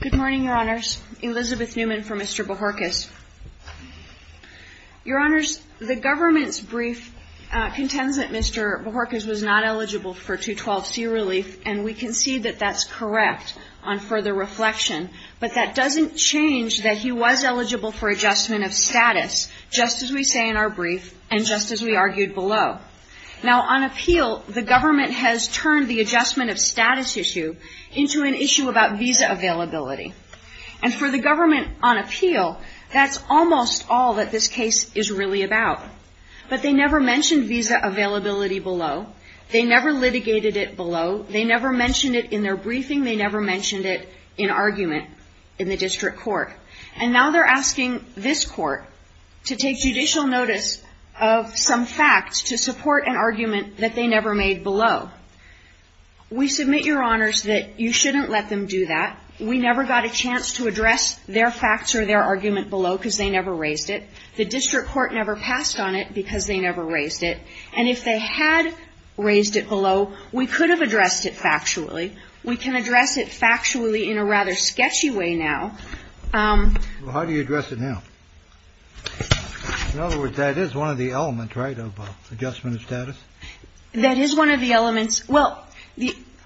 Good morning, Your Honors. Elizabeth Newman for Mr. Bojorkes. Your Honors, the government's brief contends that Mr. Bojorkes was not eligible for 212c relief, and we can see that that's correct on further reflection, but that doesn't change that he was eligible for adjustment of status, just as we say in our brief, and just as we argued below. Now on appeal, the government has turned the adjustment of status issue into an issue about visa availability, and for the government on appeal, that's almost all that this case is really about, but they never mentioned visa availability below. They never litigated it below. They never mentioned it in their briefing. They never mentioned it in argument in the district court, and now they're asking this court to take judicial notice of some facts to support an argument that they never made below. We submit, Your Honors, that you shouldn't let them do that. We never got a chance to address their facts or their argument below because they never raised it. The district court never passed on it because they never raised it. And if they had raised it below, we could have addressed it factually. We can address it factually in a rather sketchy way now. Well, how do you address it now? In other words, that is one of the elements, right, of adjustment of status? That is one of the elements. Well,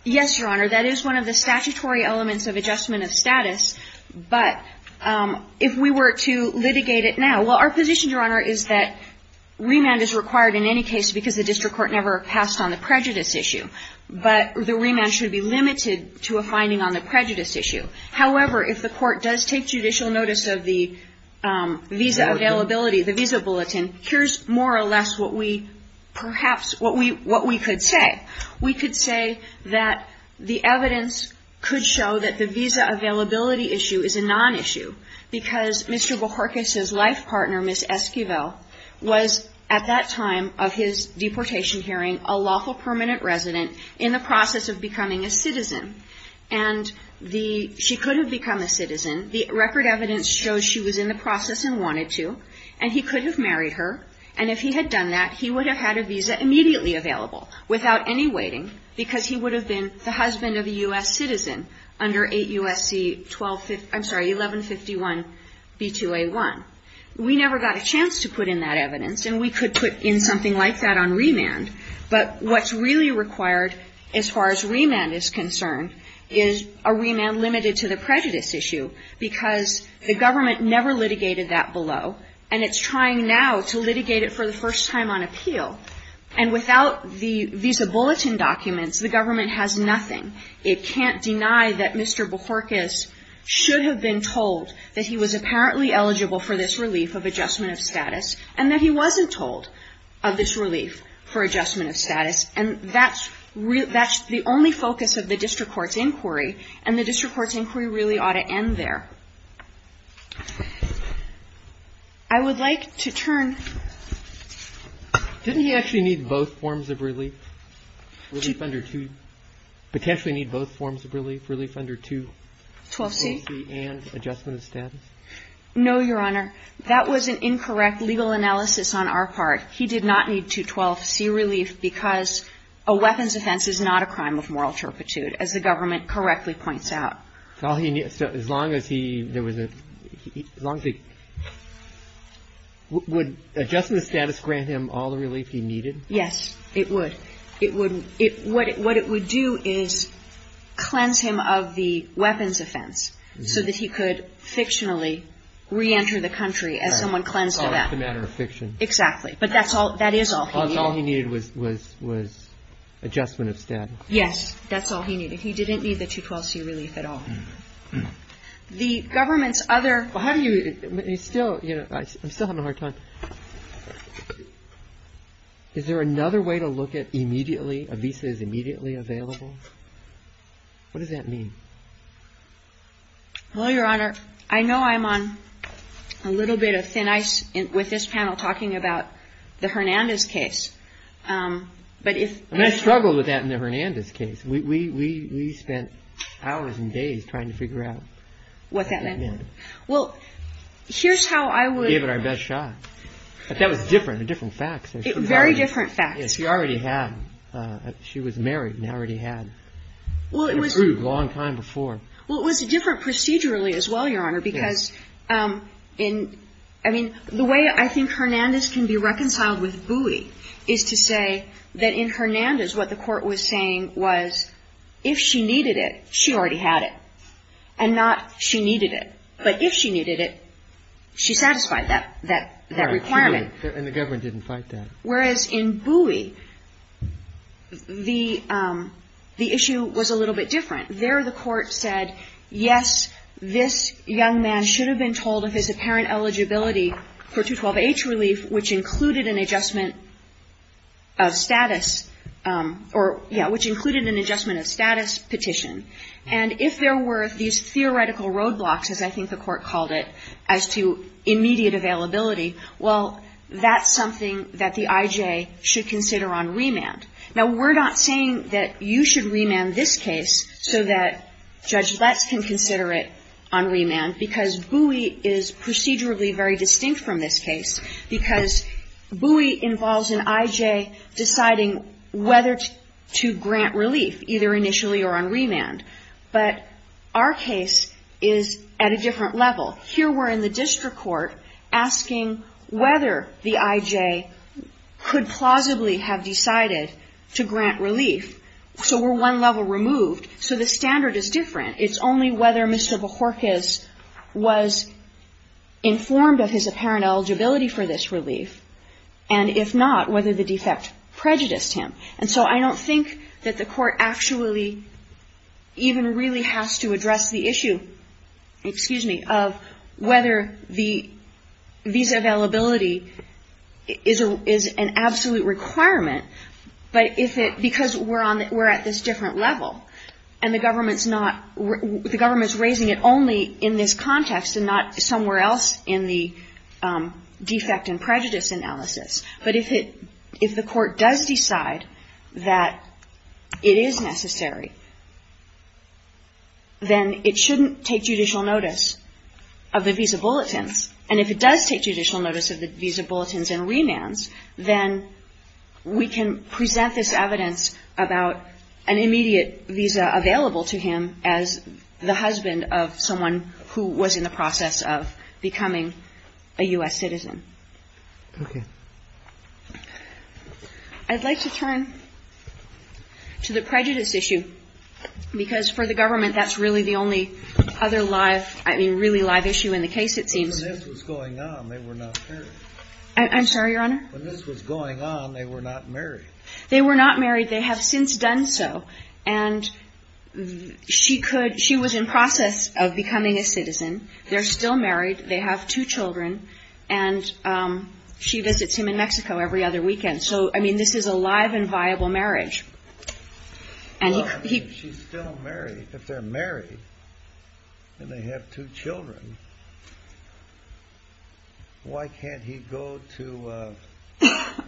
yes, Your Honor, that is one of the statutory elements of adjustment of status, but if we were to litigate it now, well, our position, Your Honor, is that remand is required in any case because the district court never passed on the prejudice issue, but the remand should be limited to a finding on the prejudice issue. However, if the court does take judicial notice of the visa availability, the visa bulletin, here's more or less what we perhaps, what we could say. We could say that the evidence could show that the visa availability issue is a non-issue because Mr. Bohorkes' life partner, Ms. Esquivel, was at that time of his deportation hearing a lawful permanent resident in the process of becoming a citizen. And the, she could have become a citizen. The record evidence shows she was in the process and wanted to, and he could have married her, and if he had done that, he would have had a visa immediately available without any waiting because he would have been the husband of a U.S. citizen under 8 U.S.C. 12, I'm sorry, 1151 B2A1. We never got a chance to put in that evidence, and we could put in something like that on remand, but what's really required as far as remand is concerned is a remand limited to the prejudice issue because the government never litigated that below, and it's trying now to litigate it for the first time on appeal. And without the visa bulletin documents, the government has nothing. It can't deny that Mr. Bohorkes should have been told that he was apparently eligible for this relief of for adjustment of status, and that's the only focus of the district court's inquiry, and the district court's inquiry really ought to end there. I would like to turn to Mr. Bohorkes. Didn't he actually need both forms of relief? Relief under 2, potentially need both forms of relief, relief under 2, 12C, and adjustment of status? No, Your Honor. That was an incorrect legal analysis on our part. He did not need to 12C relief because a weapons offense is not a crime of moral turpitude, as the government correctly points out. So as long as he, would adjustment of status grant him all the relief he needed? Yes, it would. What it would do is cleanse him of the weapons offense so that he could fictionally reenter the country as someone cleansed of that. Oh, it's a matter of fiction. Exactly. But that's all, that is all he needed. All he needed was, was, was adjustment of status. Yes, that's all he needed. He didn't need the 2, 12C relief at all. The government's other Well, how do you, he's still, you know, I'm still having a hard time. Is there another way to look at immediately, a visa is immediately available? What does that mean? Well, Your Honor, I know I'm on a little bit of thin ice with this panel talking about the Hernandez case. But if I mean, I struggled with that in the Hernandez case. We, we, we, we spent hours and days trying to figure out what that meant. Well, here's how I would We gave it our best shot. But that was different, a different facts. Very different facts. Yes, she already had, she was married and already had an approved long time before. Well, it was a different procedurally as well, Your Honor, because in, I mean, the way I think Hernandez can be reconciled with Bowie is to say that in Hernandez, what the court was saying was, if she needed it, she already had it. And not she needed it. But if she needed it, she satisfied that, that, that requirement. And the government didn't fight that. Whereas in Bowie, the, the issue was a little bit different. There the court said, yes, this young man should have been told of his apparent eligibility for 212H relief, which included an adjustment of status or, yeah, which included an adjustment of status petition. And if there were these theoretical roadblocks, as I think the court called it, as to immediate availability, well, that's something that the IJ should consider on remand. Now, we're not saying that you should remand this case so that Judge Letts can consider it on remand, because Bowie is procedurally very distinct from this case, because Bowie involves an IJ deciding whether to grant relief, either initially or on remand. But our case is at a different level. Here we're in the district court asking whether the IJ could plausibly have decided to grant relief. So we're one level removed. So the standard is different. It's only whether Mr. Bohorkes was informed of his apparent eligibility for this relief, and if not, whether the defect prejudiced him. And so I don't think that the court actually even really has to address the issue, excuse me, of whether the visa availability is an absolute requirement. But if it, because we're on, we're at this different level, and the government's not, the government's raising it only in this context and not somewhere else in the defect and prejudice analysis. But if it, if the court does decide that it is necessary, then it shouldn't take judicial notice of the visa bulletins. And if it does take judicial notice of the visa bulletins and remands, then we can present this evidence about an immediate visa available to him as the husband of someone who was in the process of becoming a U.S. citizen. Okay. I'd like to turn to the prejudice issue, because for the government, that's really the only other live, I mean, really live issue in the case, it seems. When this was going on, they were not married. I'm sorry, Your Honor? When this was going on, they were not married. They were not married. They have since done so. And she could, she was in process of becoming a citizen. They're still married. They have two children. And she visits him in Mexico every other weekend. So, I mean, this is a live and viable marriage. Well, I mean, if she's still married, if they're married and they have two children, why can't he go to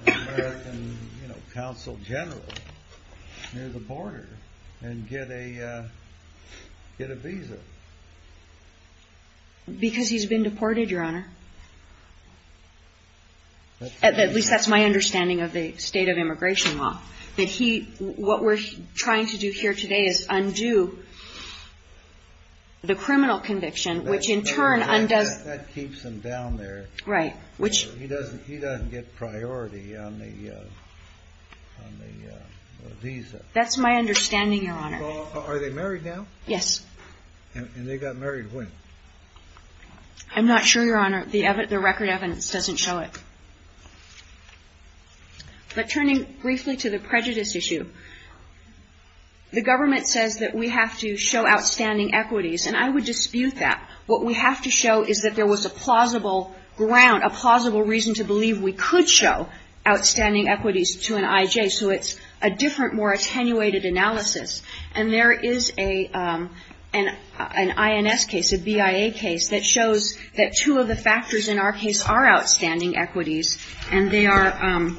the American, you know, Consul General near the border and get a visa? Because he's been deported, Your Honor. At least that's my understanding of the state of immigration law, that he, what we're trying to do here today is undo the criminal conviction, which in turn undoes. That keeps him down there. Right. Which he doesn't, he doesn't get priority on the visa. That's my understanding, Your Honor. Are they married now? Yes. And they got married when? I'm not sure, Your Honor. The record evidence doesn't show it. But turning briefly to the prejudice issue, the government says that we have to show outstanding equities. And I would dispute that. What we have to show is that there was a plausible ground, a plausible reason to believe we could show outstanding equities to an I.J. So it's a different, more attenuated analysis. And there is an INS case, a BIA case, that shows that two of the factors in our case are outstanding equities. And they are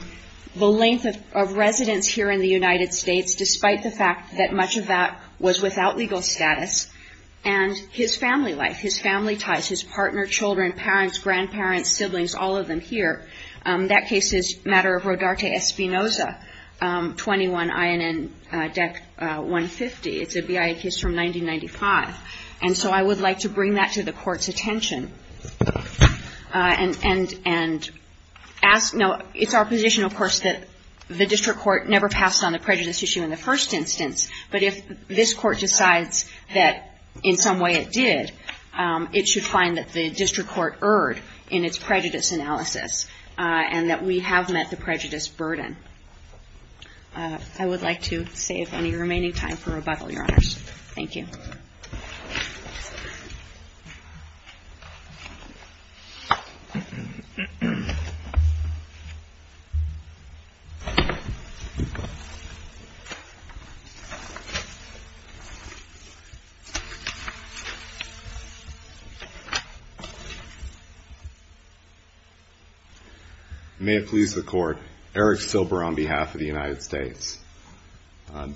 the length of residence here in the United States, despite the fact that much of that was without legal status. And his family life, his family ties, his partner, children, parents, grandparents, siblings, all of them here. That case is matter of Rodarte Espinoza, 21 INN Deck 150. It's a BIA case from 1995. And so I would like to bring that to the court's attention. And ask, no, it's our position, of course, that the district court never passed on the prejudice issue in the first instance. But if this court decides that in some way it did, it should find that the district court erred in its prejudice analysis and that we have met the prejudice burden. I would like to save any remaining time for rebuttal, Your Honors. Thank you. May it please the court. Eric Silber on behalf of the United States.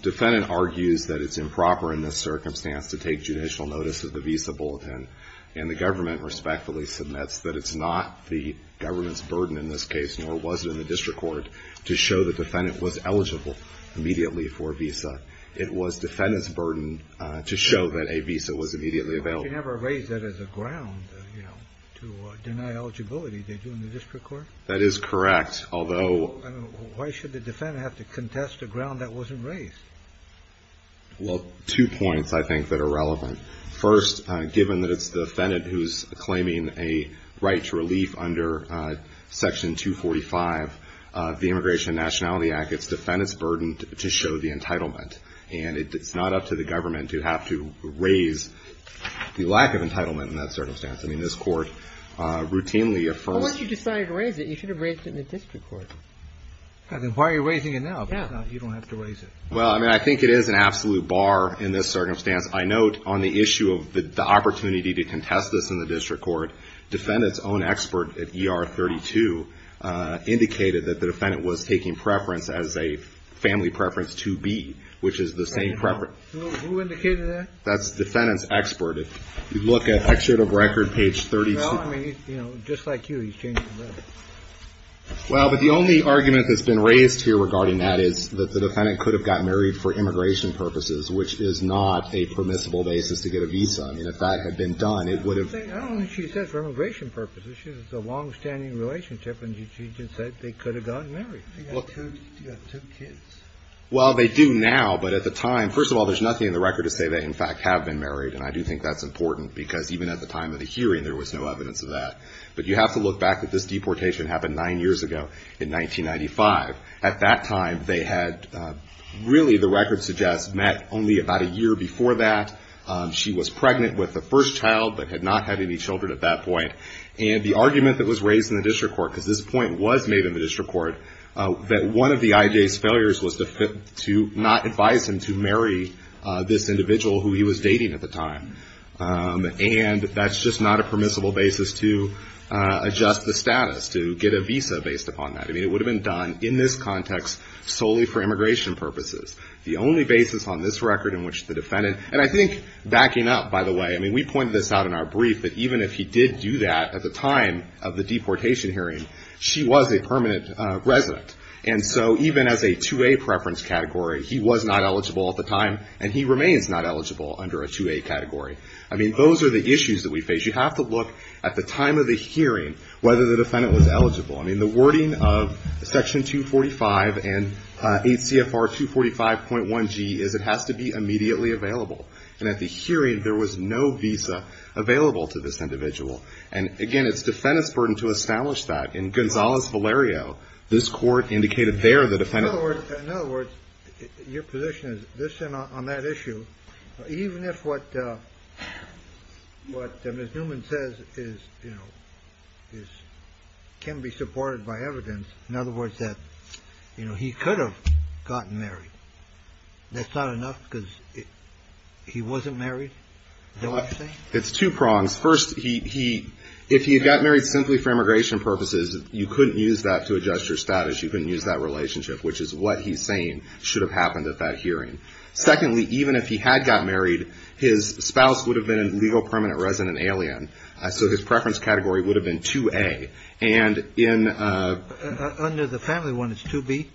Defendant argues that it's improper in this circumstance to take judicial notice of the visa bulletin. And the government respectfully submits that it's not the government's burden in this case, nor was it in the district court, to show the defendant was eligible immediately for a visa. It was defendant's burden to show that a visa was immediately available. You never raised that as a ground, you know, to deny eligibility. Did you in the district court? That is correct. Although why should the defendant have to contest a ground that wasn't raised? Well, two points, I think, that are relevant. First, given that it's the defendant who's claiming a right to relief under Section 245 of the Immigration and Nationality Act, it's defendant's burden to show the entitlement. And it's not up to the government to have to raise the lack of entitlement in that circumstance. I mean, this court routinely affirms. Well, once you decided to raise it, you should have raised it in the district court. I mean, why are you raising it now? You don't have to raise it. Well, I mean, I think it is an absolute bar in this circumstance. I note on the issue of the opportunity to contest this in the district court, defendant's own expert at ER 32 indicated that the defendant was taking preference as a family preference to be, which is the same preference. Who indicated that? That's defendant's expert. If you look at excerpt of record, page 32. Well, I mean, you know, just like you, he's changing the record. Well, but the only argument that's been raised here regarding that is that the defendant could have gotten married for immigration purposes, which is not a permissible basis to get a visa. I mean, if that had been done, it would have. I don't think she says for immigration purposes. She says it's a longstanding relationship. And she just said they could have gotten married. You've got two kids. Well, they do now. But at the time, first of all, there's nothing in the record to say they, in fact, have been married. And I do think that's important because even at the time of the hearing, there was no evidence of that. But you have to look back at this deportation happened nine years ago in 1995. At that time, they had really, the record suggests, met only about a year before that. She was pregnant with the first child, but had not had any children at that point. And the argument that was raised in the district court, because this point was made in the district court, that one of the IJ's failures was to not advise him to marry this individual who he was dating at the time. And that's just not a permissible basis to adjust the status, to get a visa based upon that. I mean, it would have been done in this context solely for immigration purposes. The only basis on this record in which the defendant, and I think backing up, by the way, I mean, we pointed this out in our brief that even if he did do that at the time of the deportation hearing, she was a permanent resident. And so even as a 2A preference category, he was not eligible at the time, and he remains not eligible under a 2A category. I mean, those are the issues that we face. You have to look at the time of the hearing, whether the defendant was eligible. I mean, the wording of Section 245 and 8 CFR 245.1G is it has to be immediately available. And at the hearing, there was no visa available to this individual. And again, it's defendant's burden to establish that. In Gonzales Valerio, this court indicated there the defendant. In other words, your position is this on that issue, even if what what Ms. Newman says is, you know, is can be supported by evidence. In other words, that, you know, he could have gotten married. That's not enough because he wasn't married. It's two prongs. First, he if he had got married simply for immigration purposes, you couldn't use that to adjust your status. You couldn't use that relationship, which is what he's saying should have happened at that hearing. Secondly, even if he had got married, his spouse would have been a legal permanent resident alien. So his preference category would have been 2A and in under the family, one is to be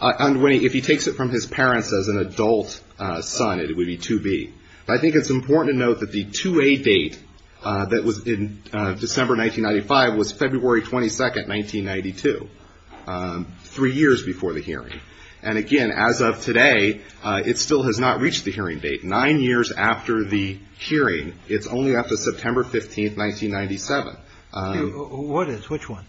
underway. If he takes it from his parents as an adult son, it would be to be. I think it's important to note that the 2A date that was in December 1995 was February 22nd, 1992, three years before the hearing. And again, as of today, it still has not reached the hearing date. Nine years after the hearing. It's only up to September 15th, 1997. What is which one?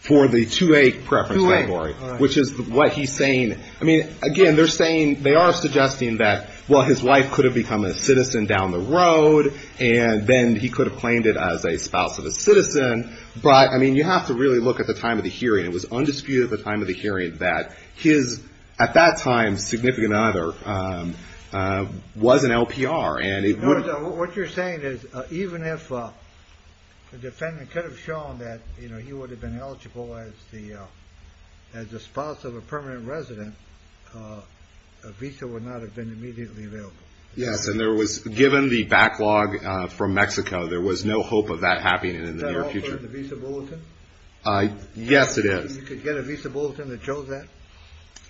For the 2A preference category, which is what he's saying. I mean, again, they're saying they are suggesting that, well, his wife could have become a citizen down the road and then he could have claimed it as a spouse of a citizen. But I mean, you have to really look at the time of the hearing. It was undisputed at the time of the hearing that his at that time significant other was an LPR. And what you're saying is even if the defendant could have shown that, you know, he would have been eligible as the as the spouse of a permanent resident. A visa would not have been immediately available. Yes. And there was given the backlog from Mexico. There was no hope of that happening in the near future. Yes, it is. You could get a visa bulletin that shows that.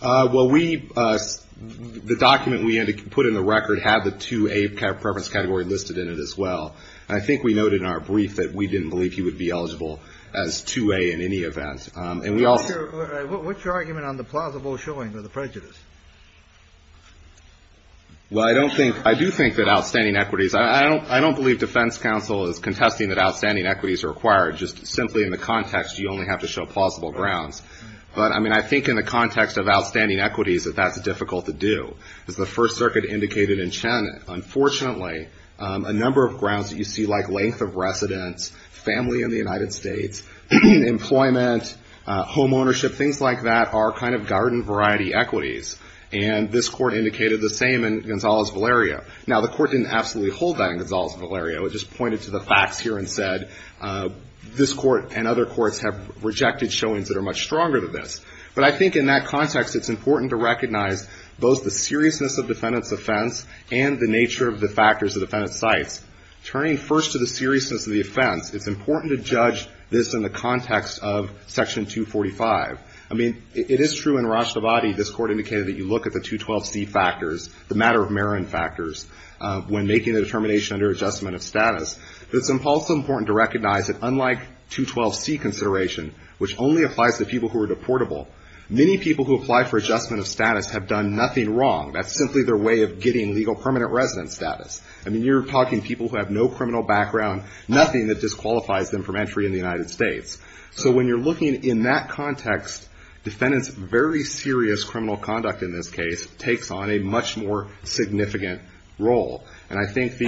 Well, we the document we had to put in the record had the 2A preference category listed in it as well. I think we noted in our brief that we didn't believe he would be eligible as 2A in any event. And we also what's your argument on the plausible showing of the prejudice? Well, I don't think I do think that outstanding equities. I don't I don't believe Defense Council is contesting that outstanding equities are required. Just simply in the context, you only have to show plausible grounds. But I mean, I think in the context of outstanding equities, that that's difficult to do. As the First Circuit indicated in China, unfortunately, a number of grounds that you see, like length of residence, family in the United States, employment, home ownership, things like that are kind of garden variety equities. And this court indicated the same in Gonzales-Valeria. Now, the court didn't absolutely hold that in Gonzales-Valeria. It just pointed to the facts here and said this court and other courts have rejected showings that are much stronger than this. But I think in that context, it's important to recognize both the seriousness of defendant's offense and the nature of the factors the defendant cites. Turning first to the seriousness of the offense. It's important to judge this in the context of Section 245. I mean, it is true in Rastavadi, this court indicated that you look at the 212C factors, the matter of merit factors, when making the determination under adjustment of status. It's also important to recognize that unlike 212C consideration, which only applies to people who are deportable, many people who apply for adjustment of status have done nothing wrong. That's simply their way of getting legal permanent residence status. I mean, you're talking people who have no criminal background, nothing that disqualifies them from entry in the United States. So when you're looking in that context, defendant's very serious criminal conduct in this case takes on a much more significant role. And I think the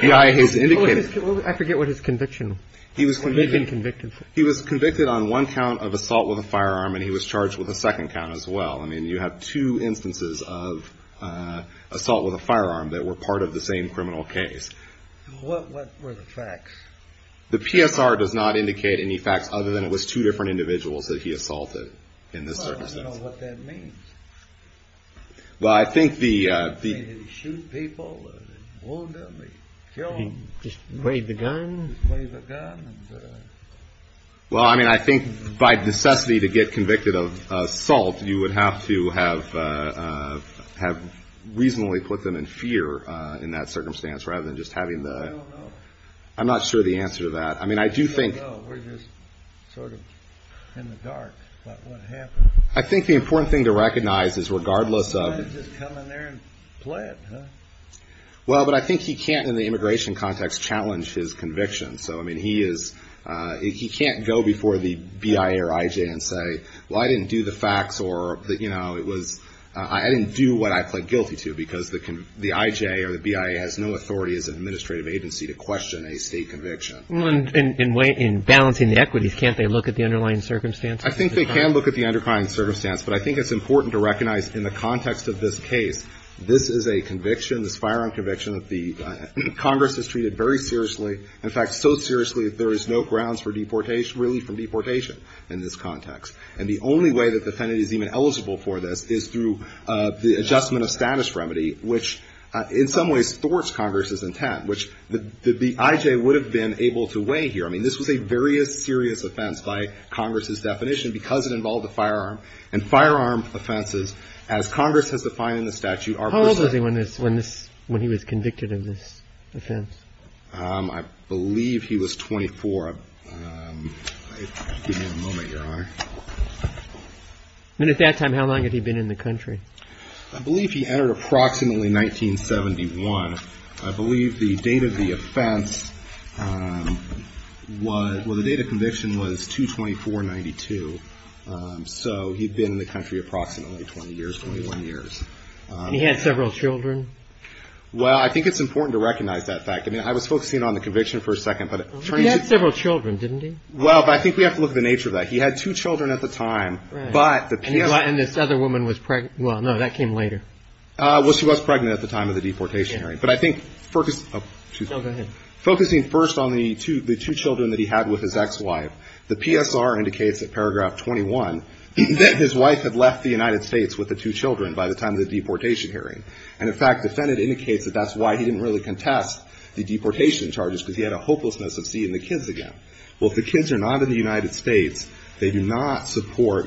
BIA has indicated. I forget what his conviction. He was convicted on one count of assault with a firearm and he was charged with a second count as well. I mean, you have two instances of assault with a firearm that were part of the same criminal case. What were the facts? The PSR does not indicate any facts other than it was two different individuals that he assaulted in this circumstance. I don't know what that means. Well, I think the. Did he shoot people, wound them, kill them? Did he just wave the gun? Wave the gun. Well, I mean, I think by necessity to get convicted of assault, you would have to have have reasonably put them in fear in that circumstance rather than just having the. I'm not sure the answer to that. I mean, I do think. We're just sort of in the dark about what happened. I think the important thing to recognize is regardless of. You can't just come in there and play it. Well, but I think he can't, in the immigration context, challenge his conviction. So, I mean, he is he can't go before the BIA or IJ and say, well, I didn't do the facts or that, you know, it was I didn't do what I pled guilty to because the the IJ or the BIA has no authority as an administrative agency to question a state conviction. And in balancing the equities, can't they look at the underlying circumstances? I think they can look at the underlying circumstance, but I think it's important to recognize in the context of this case, this is a conviction, this firearm conviction that the Congress has treated very seriously. In fact, so seriously, there is no grounds for deportation, really, from deportation in this context. And the only way that the defendant is even eligible for this is through the adjustment of status remedy, which in some ways thwarts Congress's intent, which the IJ would have been able to weigh here. I mean, this was a very serious offense by Congress's definition because it involved a firearm and firearm offenses, as Congress has defined in the statute. How old was he when this when this when he was convicted of this offense? I believe he was 24. Give me a moment, your honor. And at that time, how long had he been in the country? I believe he entered approximately 1971. I believe the date of the offense was when the date of conviction was 224 92. So he'd been in the country approximately 20 years, 21 years. He had several children. Well, I think it's important to recognize that fact. I mean, I was focusing on the conviction for a second, but he had several children, didn't he? Well, I think we have to look at the nature of that. He had two children at the time, but the other woman was pregnant. Well, no, that came later. Well, she was pregnant at the time of the deportation. But I think focus focusing first on the two the two children that he had with his ex-wife. The PSR indicates that paragraph 21 that his wife had left the United States with the two children by the time of the deportation hearing. And in fact, the defendant indicates that that's why he didn't really contest the deportation charges, because he had a hopelessness of seeing the kids again. Well, if the kids are not in the United States, they do not support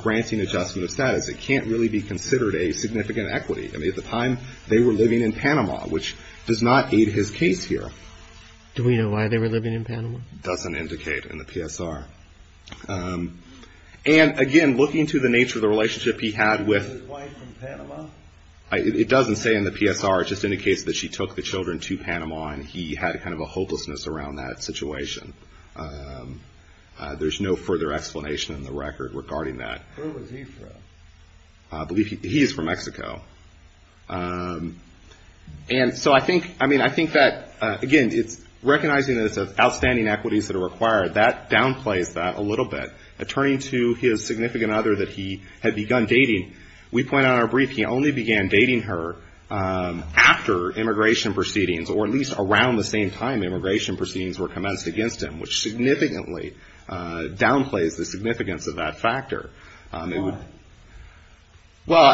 granting adjustment of status. It can't really be considered a significant equity. I mean, at the time they were living in Panama, which does not aid his case here. Do we know why they were living in Panama? Doesn't indicate in the PSR. And again, looking to the nature of the relationship he had with his wife from Panama. It doesn't say in the PSR, it just indicates that she took the children to Panama and he had kind of a hopelessness around that situation. There's no further explanation in the record regarding that. I believe he is from Mexico. And so I think I mean, I think that, again, it's recognizing that it's outstanding equities that are required. That downplays that a little bit. Turning to his significant other that he had begun dating, we point out in our brief, he only began dating her after immigration proceedings, or at least around the same time immigration proceedings were commenced against him, which significantly downplays the significance of that factor. Well,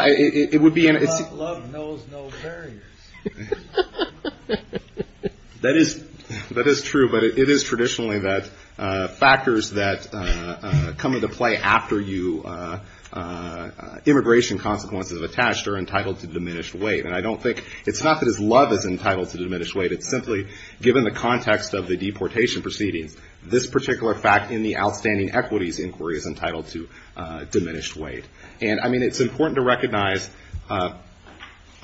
it would be. Love knows no barriers. That is, that is true. But it is traditionally that factors that come into play after you, immigration consequences attached are entitled to diminished weight. And I don't think it's not that his love is entitled to diminished weight. It's simply given the context of the deportation proceedings, this particular fact in the outstanding equities inquiry is entitled to diminished weight. And I mean, it's important to recognize.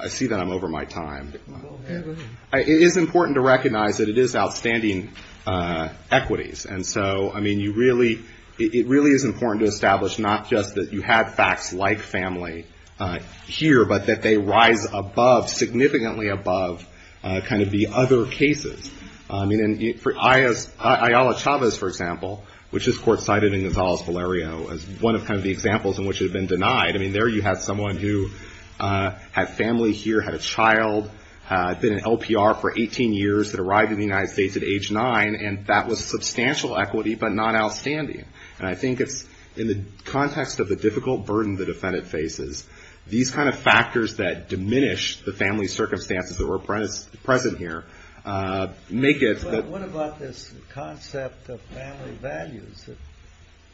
I see that I'm over my time. It is important to recognize that it is outstanding equities. And so, I mean, you really it really is important to establish not just that you have facts like family here, but that they rise above significantly above kind of the other cases. I mean, for Ayala Chavez, for example, which this court cited in Gonzalez Valerio as one of the examples in which had been denied. I mean, there you had someone who had family here, had a child, had been in LPR for 18 years, had arrived in the United States at age nine. And that was substantial equity, but not outstanding. And I think it's in the context of the difficult burden the defendant faces, these kind of factors that diminish the family circumstances that were present here make it what about this concept of family values that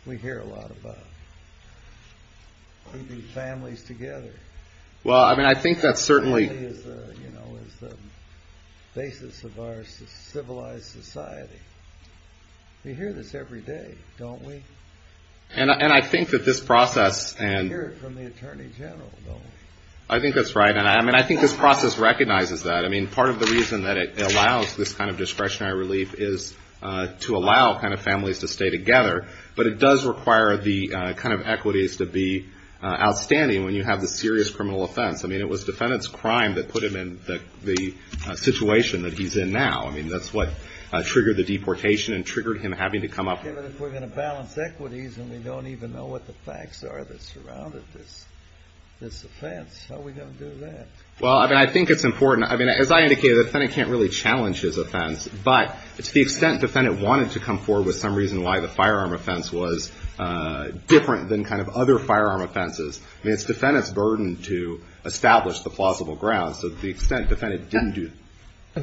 we hear a lot about families together? Well, I mean, I think that certainly is the basis of our civilized society. We hear this every day, don't we? And I think that this process and from the attorney general, though, I think that's right. And I mean, I think this process recognizes that. I mean, part of the reason that it allows this kind of discretionary relief is to allow kind of families to stay together. But it does require the kind of equities to be outstanding when you have the serious criminal offense. I mean, it was defendant's crime that put him in the situation that he's in now. I mean, that's what triggered the deportation and triggered him having to come up. But if we're going to balance equities and we don't even know what the facts are that surrounded this offense, how are we going to do that? Well, I think it's important. I mean, as I indicated, the defendant can't really challenge his offense. But to the extent defendant wanted to come forward with some reason why the firearm offense was different than kind of other firearm offenses, I mean, it's defendant's burden to establish the plausible grounds to the extent defendant didn't do. I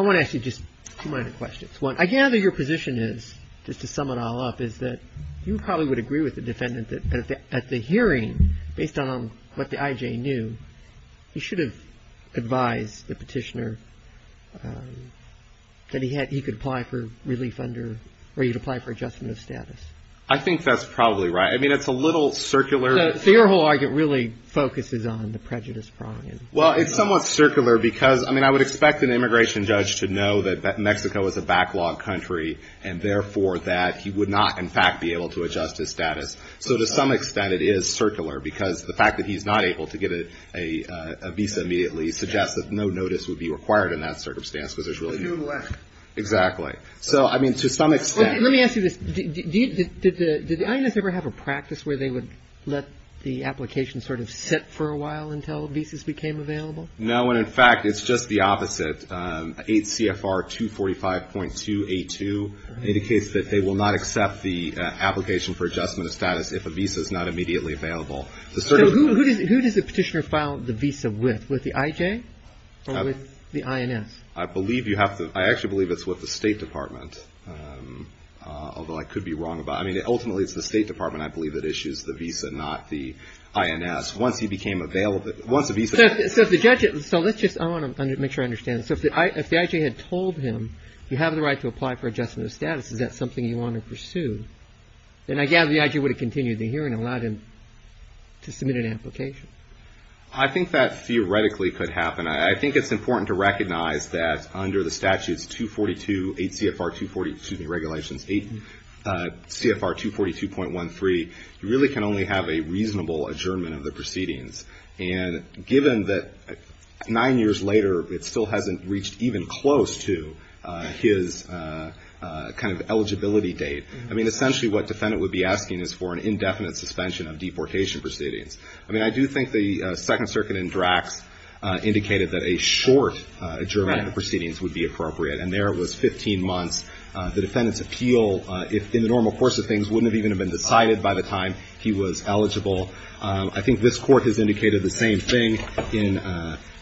want to ask you just two minor questions. One, I gather your position is, just to sum it all up, is that you probably would agree with the defendant that at the hearing, based on what the I.J. knew, he should have advised the petitioner that he could apply for relief under, or he'd apply for adjustment of status. I think that's probably right. I mean, it's a little circular. So your whole argument really focuses on the prejudice prong. Well, it's somewhat circular because, I mean, I would expect an immigration judge to know that Mexico is a backlog country and therefore that he would not, in fact, be able to adjust his status. So to some extent, it is circular because the fact that he's not able to get a visa immediately suggests that no notice would be required in that circumstance because there's really no way. Exactly. So, I mean, to some extent. Let me ask you this, did the INS ever have a practice where they would let the application sort of sit for a while until visas became available? No, and in fact, it's just the opposite. 8 CFR 245.282 indicates that they will not accept the application for adjustment of status if a visa is not immediately available. So who does the petitioner file the visa with, with the IJ or with the INS? I believe you have to, I actually believe it's with the State Department, although I could be wrong about, I mean, ultimately, it's the State Department, I believe, that issues the visa, not the INS. Once he became available, once the visa. So the judge, so let's just, I want to make sure I understand. So if the IJ had told him, you have the right to apply for adjustment of status, is that something you want to pursue? And I gather the IJ would have continued the hearing and allowed him to submit an application. I think that theoretically could happen. I think it's important to recognize that under the statutes 242, 8 CFR 240, excuse me, regulations 8 CFR 242.13, you really can only have a reasonable adjournment of the proceedings. And given that nine years later, it still hasn't reached even close to his kind of eligibility date. I mean, essentially what defendant would be asking is for an indefinite suspension of deportation proceedings. I mean, I do think the Second Circuit in Drax indicated that a short adjournment of the proceedings would be appropriate. And there it was 15 months. The defendant's appeal in the normal course of things wouldn't have even been decided by the time he was eligible. I think this court has indicated the same thing in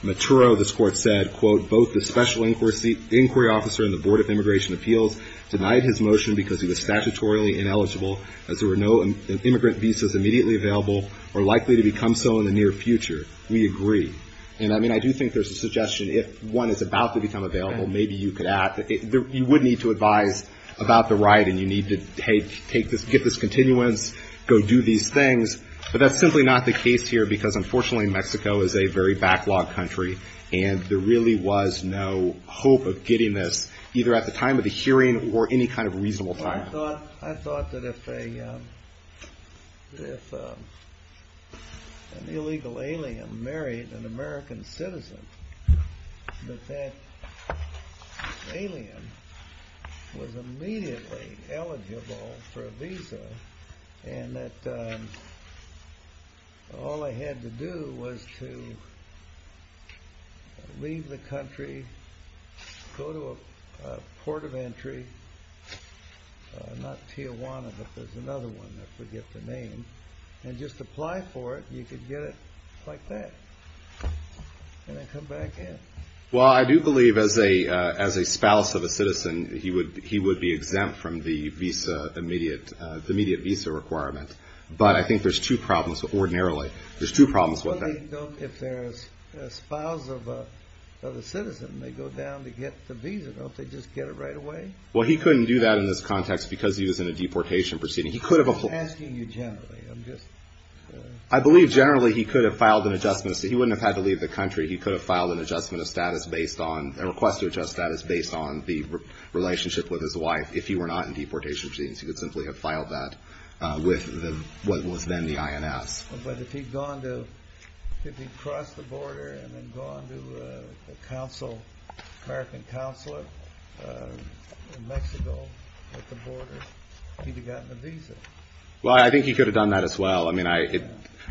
Maturo. This court said, quote, both the special inquiry officer and the Board of Immigration Appeals denied his motion because he was statutorily ineligible as there were no immigrant visas immediately available or likely to become so in the near future. We agree. And I mean, I do think there's a suggestion if one is about to become available, maybe you could add that you would need to advise about the right. And you need to take this, get this continuance, go do these things. But that's simply not the case here, because unfortunately, Mexico is a very backlog country. And there really was no hope of getting this either at the time of the hearing or any kind of reasonable time. I thought that if an illegal alien married an American citizen, that that alien was immediately eligible for a visa and that all I had to do was to leave the country, go to a port of entry, not Tijuana, but there's another one, I forget the name, and just apply for it. You could get it like that and then come back in. Well, I do believe as a spouse of a citizen, he would be exempt from the visa, the immediate visa requirement. But I think there's two problems ordinarily. There's two problems with that. If there's a spouse of a citizen, they go down to get the visa. Don't they just get it right away? Well, he couldn't do that in this context because he was in a deportation proceeding. He could have. I'm just asking you generally. I believe generally he could have filed an adjustment so he wouldn't have had to leave the country. He could have filed an adjustment of status based on a request to adjust status based on the relationship with his wife. If he were not in deportation proceedings, he would simply have filed that with what was then the INS. But if he'd gone to, if he'd crossed the border and then gone to a council, American councilor in Mexico at the border, he'd have gotten a visa. Well, I think he could have done that as well. I mean, I,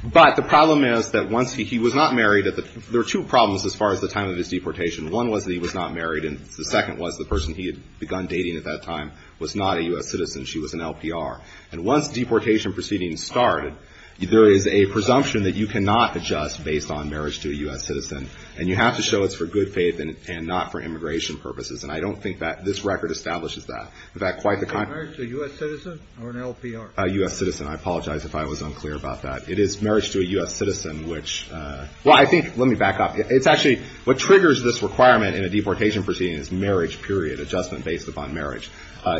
but the problem is that once he, he was not married at the, there are two problems as far as the time of his deportation. One was that he was not married. And the second was the person he had begun dating at that time was not a U.S. citizen. She was an LPR. And once deportation proceedings started, there is a presumption that you cannot adjust based on marriage to a U.S. citizen. And you have to show it's for good faith and not for immigration purposes. And I don't think that this record establishes that. In fact, quite the contrary to U.S. citizen or an LPR. A U.S. citizen. I apologize if I was unclear about that. It is marriage to a U.S. citizen, which, well, I think, let me back up. It's actually, what triggers this requirement in a deportation proceeding is marriage, period, adjustment based upon marriage.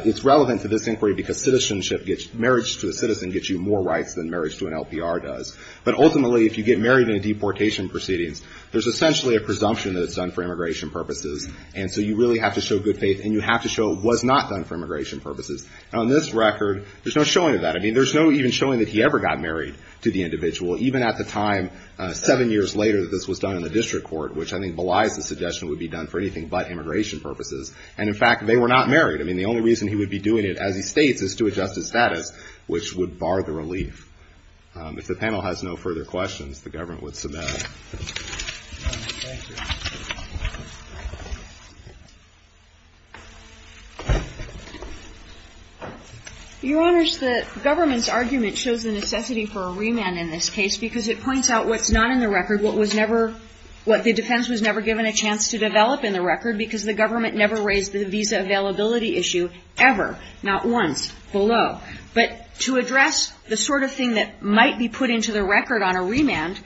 It's relevant to this inquiry because citizenship gets, marriage to a citizen gets you more rights than marriage to an LPR does. But ultimately, if you get married in a deportation proceedings, there's essentially a presumption that it's done for immigration purposes. And so you really have to show good faith and you have to show it was not done for immigration purposes. On this record, there's no showing of that. I mean, there's no even showing that he ever got married to the individual. Even at the time, seven years later, this was done in the district court, which I think belies the suggestion would be done for anything but immigration purposes. And in fact, they were not married. I mean, the only reason he would be doing it, as he states, is to adjust his status, which would bar the relief. If the panel has no further questions, the government would submit. Your Honor, the government's argument shows the necessity for a remand in this case because it points out what's not in the record, what was never, what the defense was never given a chance to develop in the record because the government never raised the visa availability issue ever, not once, below. But to address the sort of thing that might be put into the record on a remand,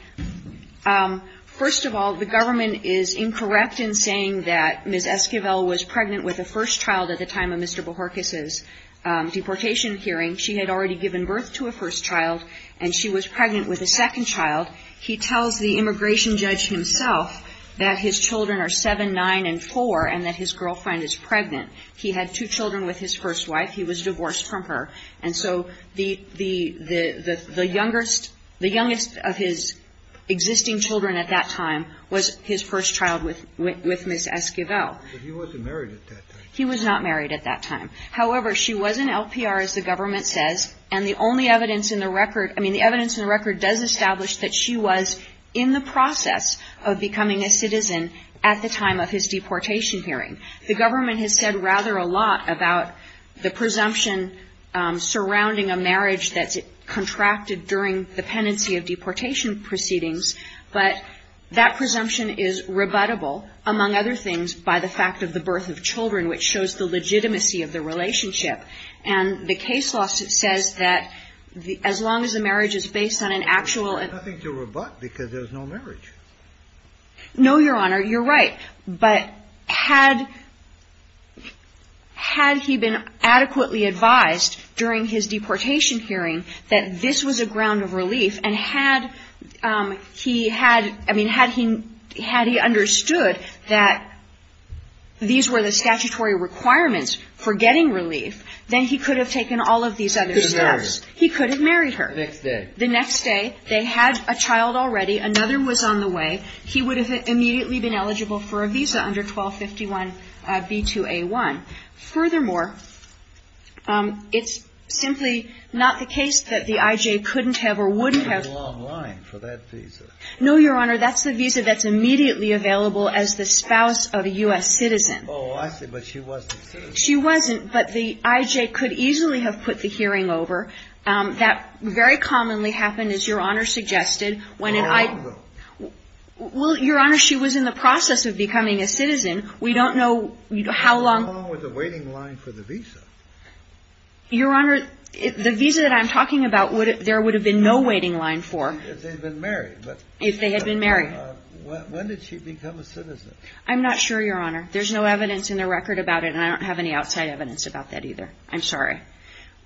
first of all, the government is incorrect in saying that Ms. Esquivel was pregnant with a first child at the time of Mr. Bohorkes' deportation hearing. She had already given birth to a first child, and she was pregnant with a second child. He tells the immigration judge himself that his children are seven, nine, and four, and that his girlfriend is pregnant. He had two children with his first wife. He was divorced from her. And so the youngest of his existing children at that time was his first child with Ms. Esquivel. But he wasn't married at that time. He was not married at that time. However, she was in LPR, as the government says, and the only evidence in the record, I mean, the evidence in the record does establish that she was in the process of becoming a citizen at the time of his deportation hearing. The government has said rather a lot about the presumption surrounding a marriage that's contracted during the pendency of deportation proceedings. But that presumption is rebuttable, among other things, by the fact of the birth of children, which shows the legitimacy of the relationship. And the case law says that as long as a marriage is based on an actual and nothing to rebut because there's no marriage. No, Your Honor, you're right. But had he been adequately advised during his deportation hearing that this was a ground of relief and had he had, I mean, had he understood that these were the statutory requirements for getting relief, then he could have taken all of these other steps. He could have married her the next day. They had a child already. Another was on the way. He would have immediately been eligible for a visa under 1251 B2A1. Furthermore, it's simply not the case that the I.J. couldn't have or wouldn't have. That's a long line for that visa. No, Your Honor. That's the visa that's immediately available as the spouse of a U.S. citizen. Oh, I see. But she wasn't a citizen. She wasn't. But the I.J. could easily have put the hearing over. That very commonly happened, as Your Honor suggested. How long ago? Well, Your Honor, she was in the process of becoming a citizen. We don't know how long. How long was the waiting line for the visa? Your Honor, the visa that I'm talking about, there would have been no waiting line for. If they'd been married. If they had been married. When did she become a citizen? I'm not sure, Your Honor. There's no evidence in the record about it, and I don't have any outside evidence about that either. I'm sorry.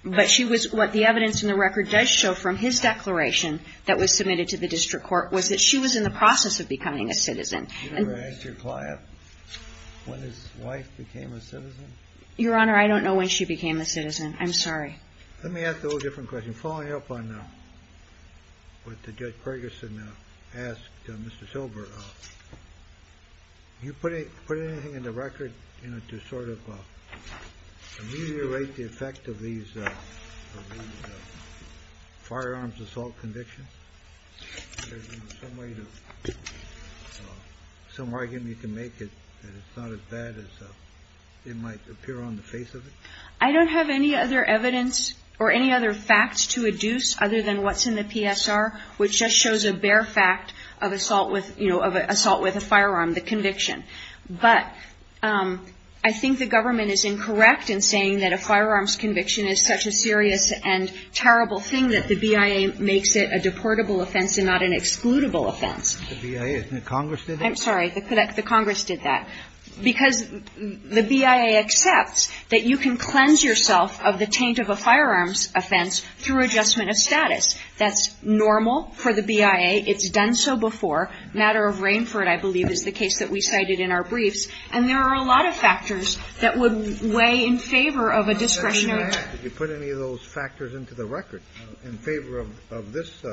But she was, what the evidence in the record does show from his declaration that was submitted to the district court, was that she was in the process of becoming a citizen. Did you ever ask your client when his wife became a citizen? Your Honor, I don't know when she became a citizen. I'm sorry. Let me ask a little different question. Following up on what the Judge Ferguson asked Mr. Silver, you put it, put anything in the record, you know, to sort of ameliorate the effect of these firearms assault convictions? Some argument you can make that it's not as bad as it might appear on the face of it? I don't have any other evidence or any other facts to adduce other than what's in the PSR, which just shows a bare fact of assault with, you know, of assault with a firearm, the conviction. But I think the government is incorrect in saying that a firearms conviction is such a serious and terrible thing that the BIA makes it a deportable offense and not an excludable offense. The BIA, isn't it Congress did it? I'm sorry. The BIA, the Congress did that because the BIA accepts that you can cleanse yourself of the taint of a firearms offense through adjustment of status. That's normal for the BIA. It's done so before. Matter of Rainford, I believe, is the case that we cited in our briefs. And there are a lot of factors that would weigh in favor of a discretionary. Did you put any of those factors into the record in favor of this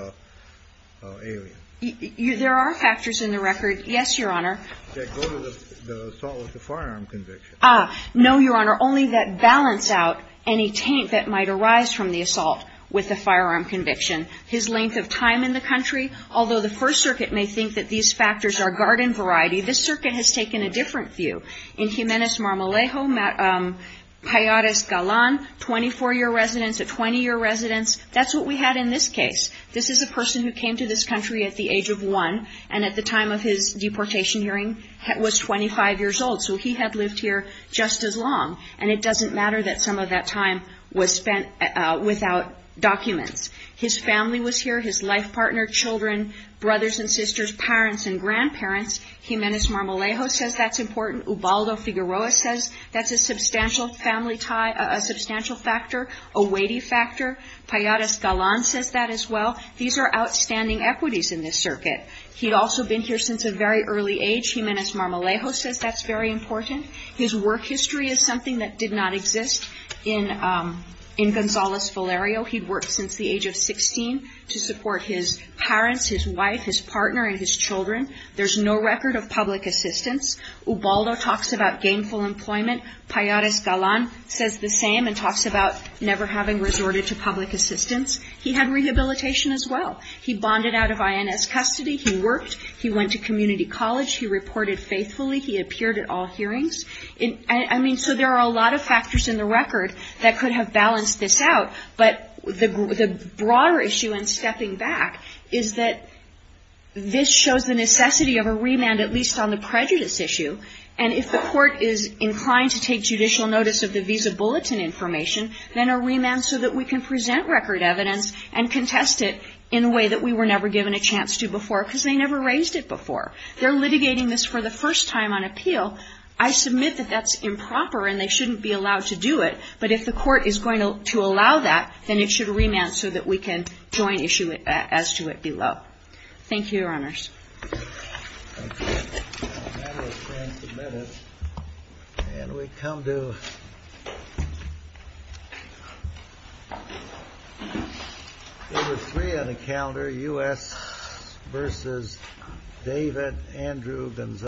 area? There are factors in the record. Yes, Your Honor. That go to the assault with a firearm conviction. Ah, no, Your Honor. Only that balance out any taint that might arise from the assault with a firearm conviction. His length of time in the country, although the First Circuit may think that these factors are garden variety, this circuit has taken a different view. In Jimenez Marmolejo, Pallades Galan, 24-year residence, a 20-year residence. That's what we had in this case. This is a person who came to this country at the age of one and at the time of his deportation hearing was 25 years old. So he had lived here just as long. And it doesn't matter that some of that time was spent without documents. His family was here, his life partner, children, brothers and sisters, parents and grandparents. Jimenez Marmolejo says that's important. Ubaldo Figueroa says that's a substantial family tie, a substantial factor, a weighty factor. Pallades Galan says that as well. These are outstanding equities in this circuit. He'd also been here since a very early age. Jimenez Marmolejo says that's very important. His work history is something that did not exist in, um, in Gonzales Valerio. He'd worked since the age of 16 to support his parents, his wife, his partner and his children. There's no record of public assistance. Ubaldo talks about gainful employment. Pallades Galan says the same and talks about never having resorted to public assistance. He had rehabilitation as well. He bonded out of INS custody. He worked. He went to community college. He reported faithfully. He appeared at all hearings. And, I mean, so there are a lot of factors in the record that could have balanced this out. But the broader issue in stepping back is that this shows the necessity of a remand, at least on the prejudice issue. And if the court is inclined to take judicial notice of the visa bulletin information, then a remand so that we can present record evidence and contest it in a way that we were never given a chance to before, because they never raised it before. They're litigating this for the first time on appeal. I submit that that's improper and they shouldn't be allowed to do it. But if the court is going to allow that, then it should remand so that we can join issue as to it below. Thank you, Your Honors. Thank you. It's now a matter of 20 minutes, and we come to number three on the calendar, U.S. versus David Andrew Gonzales.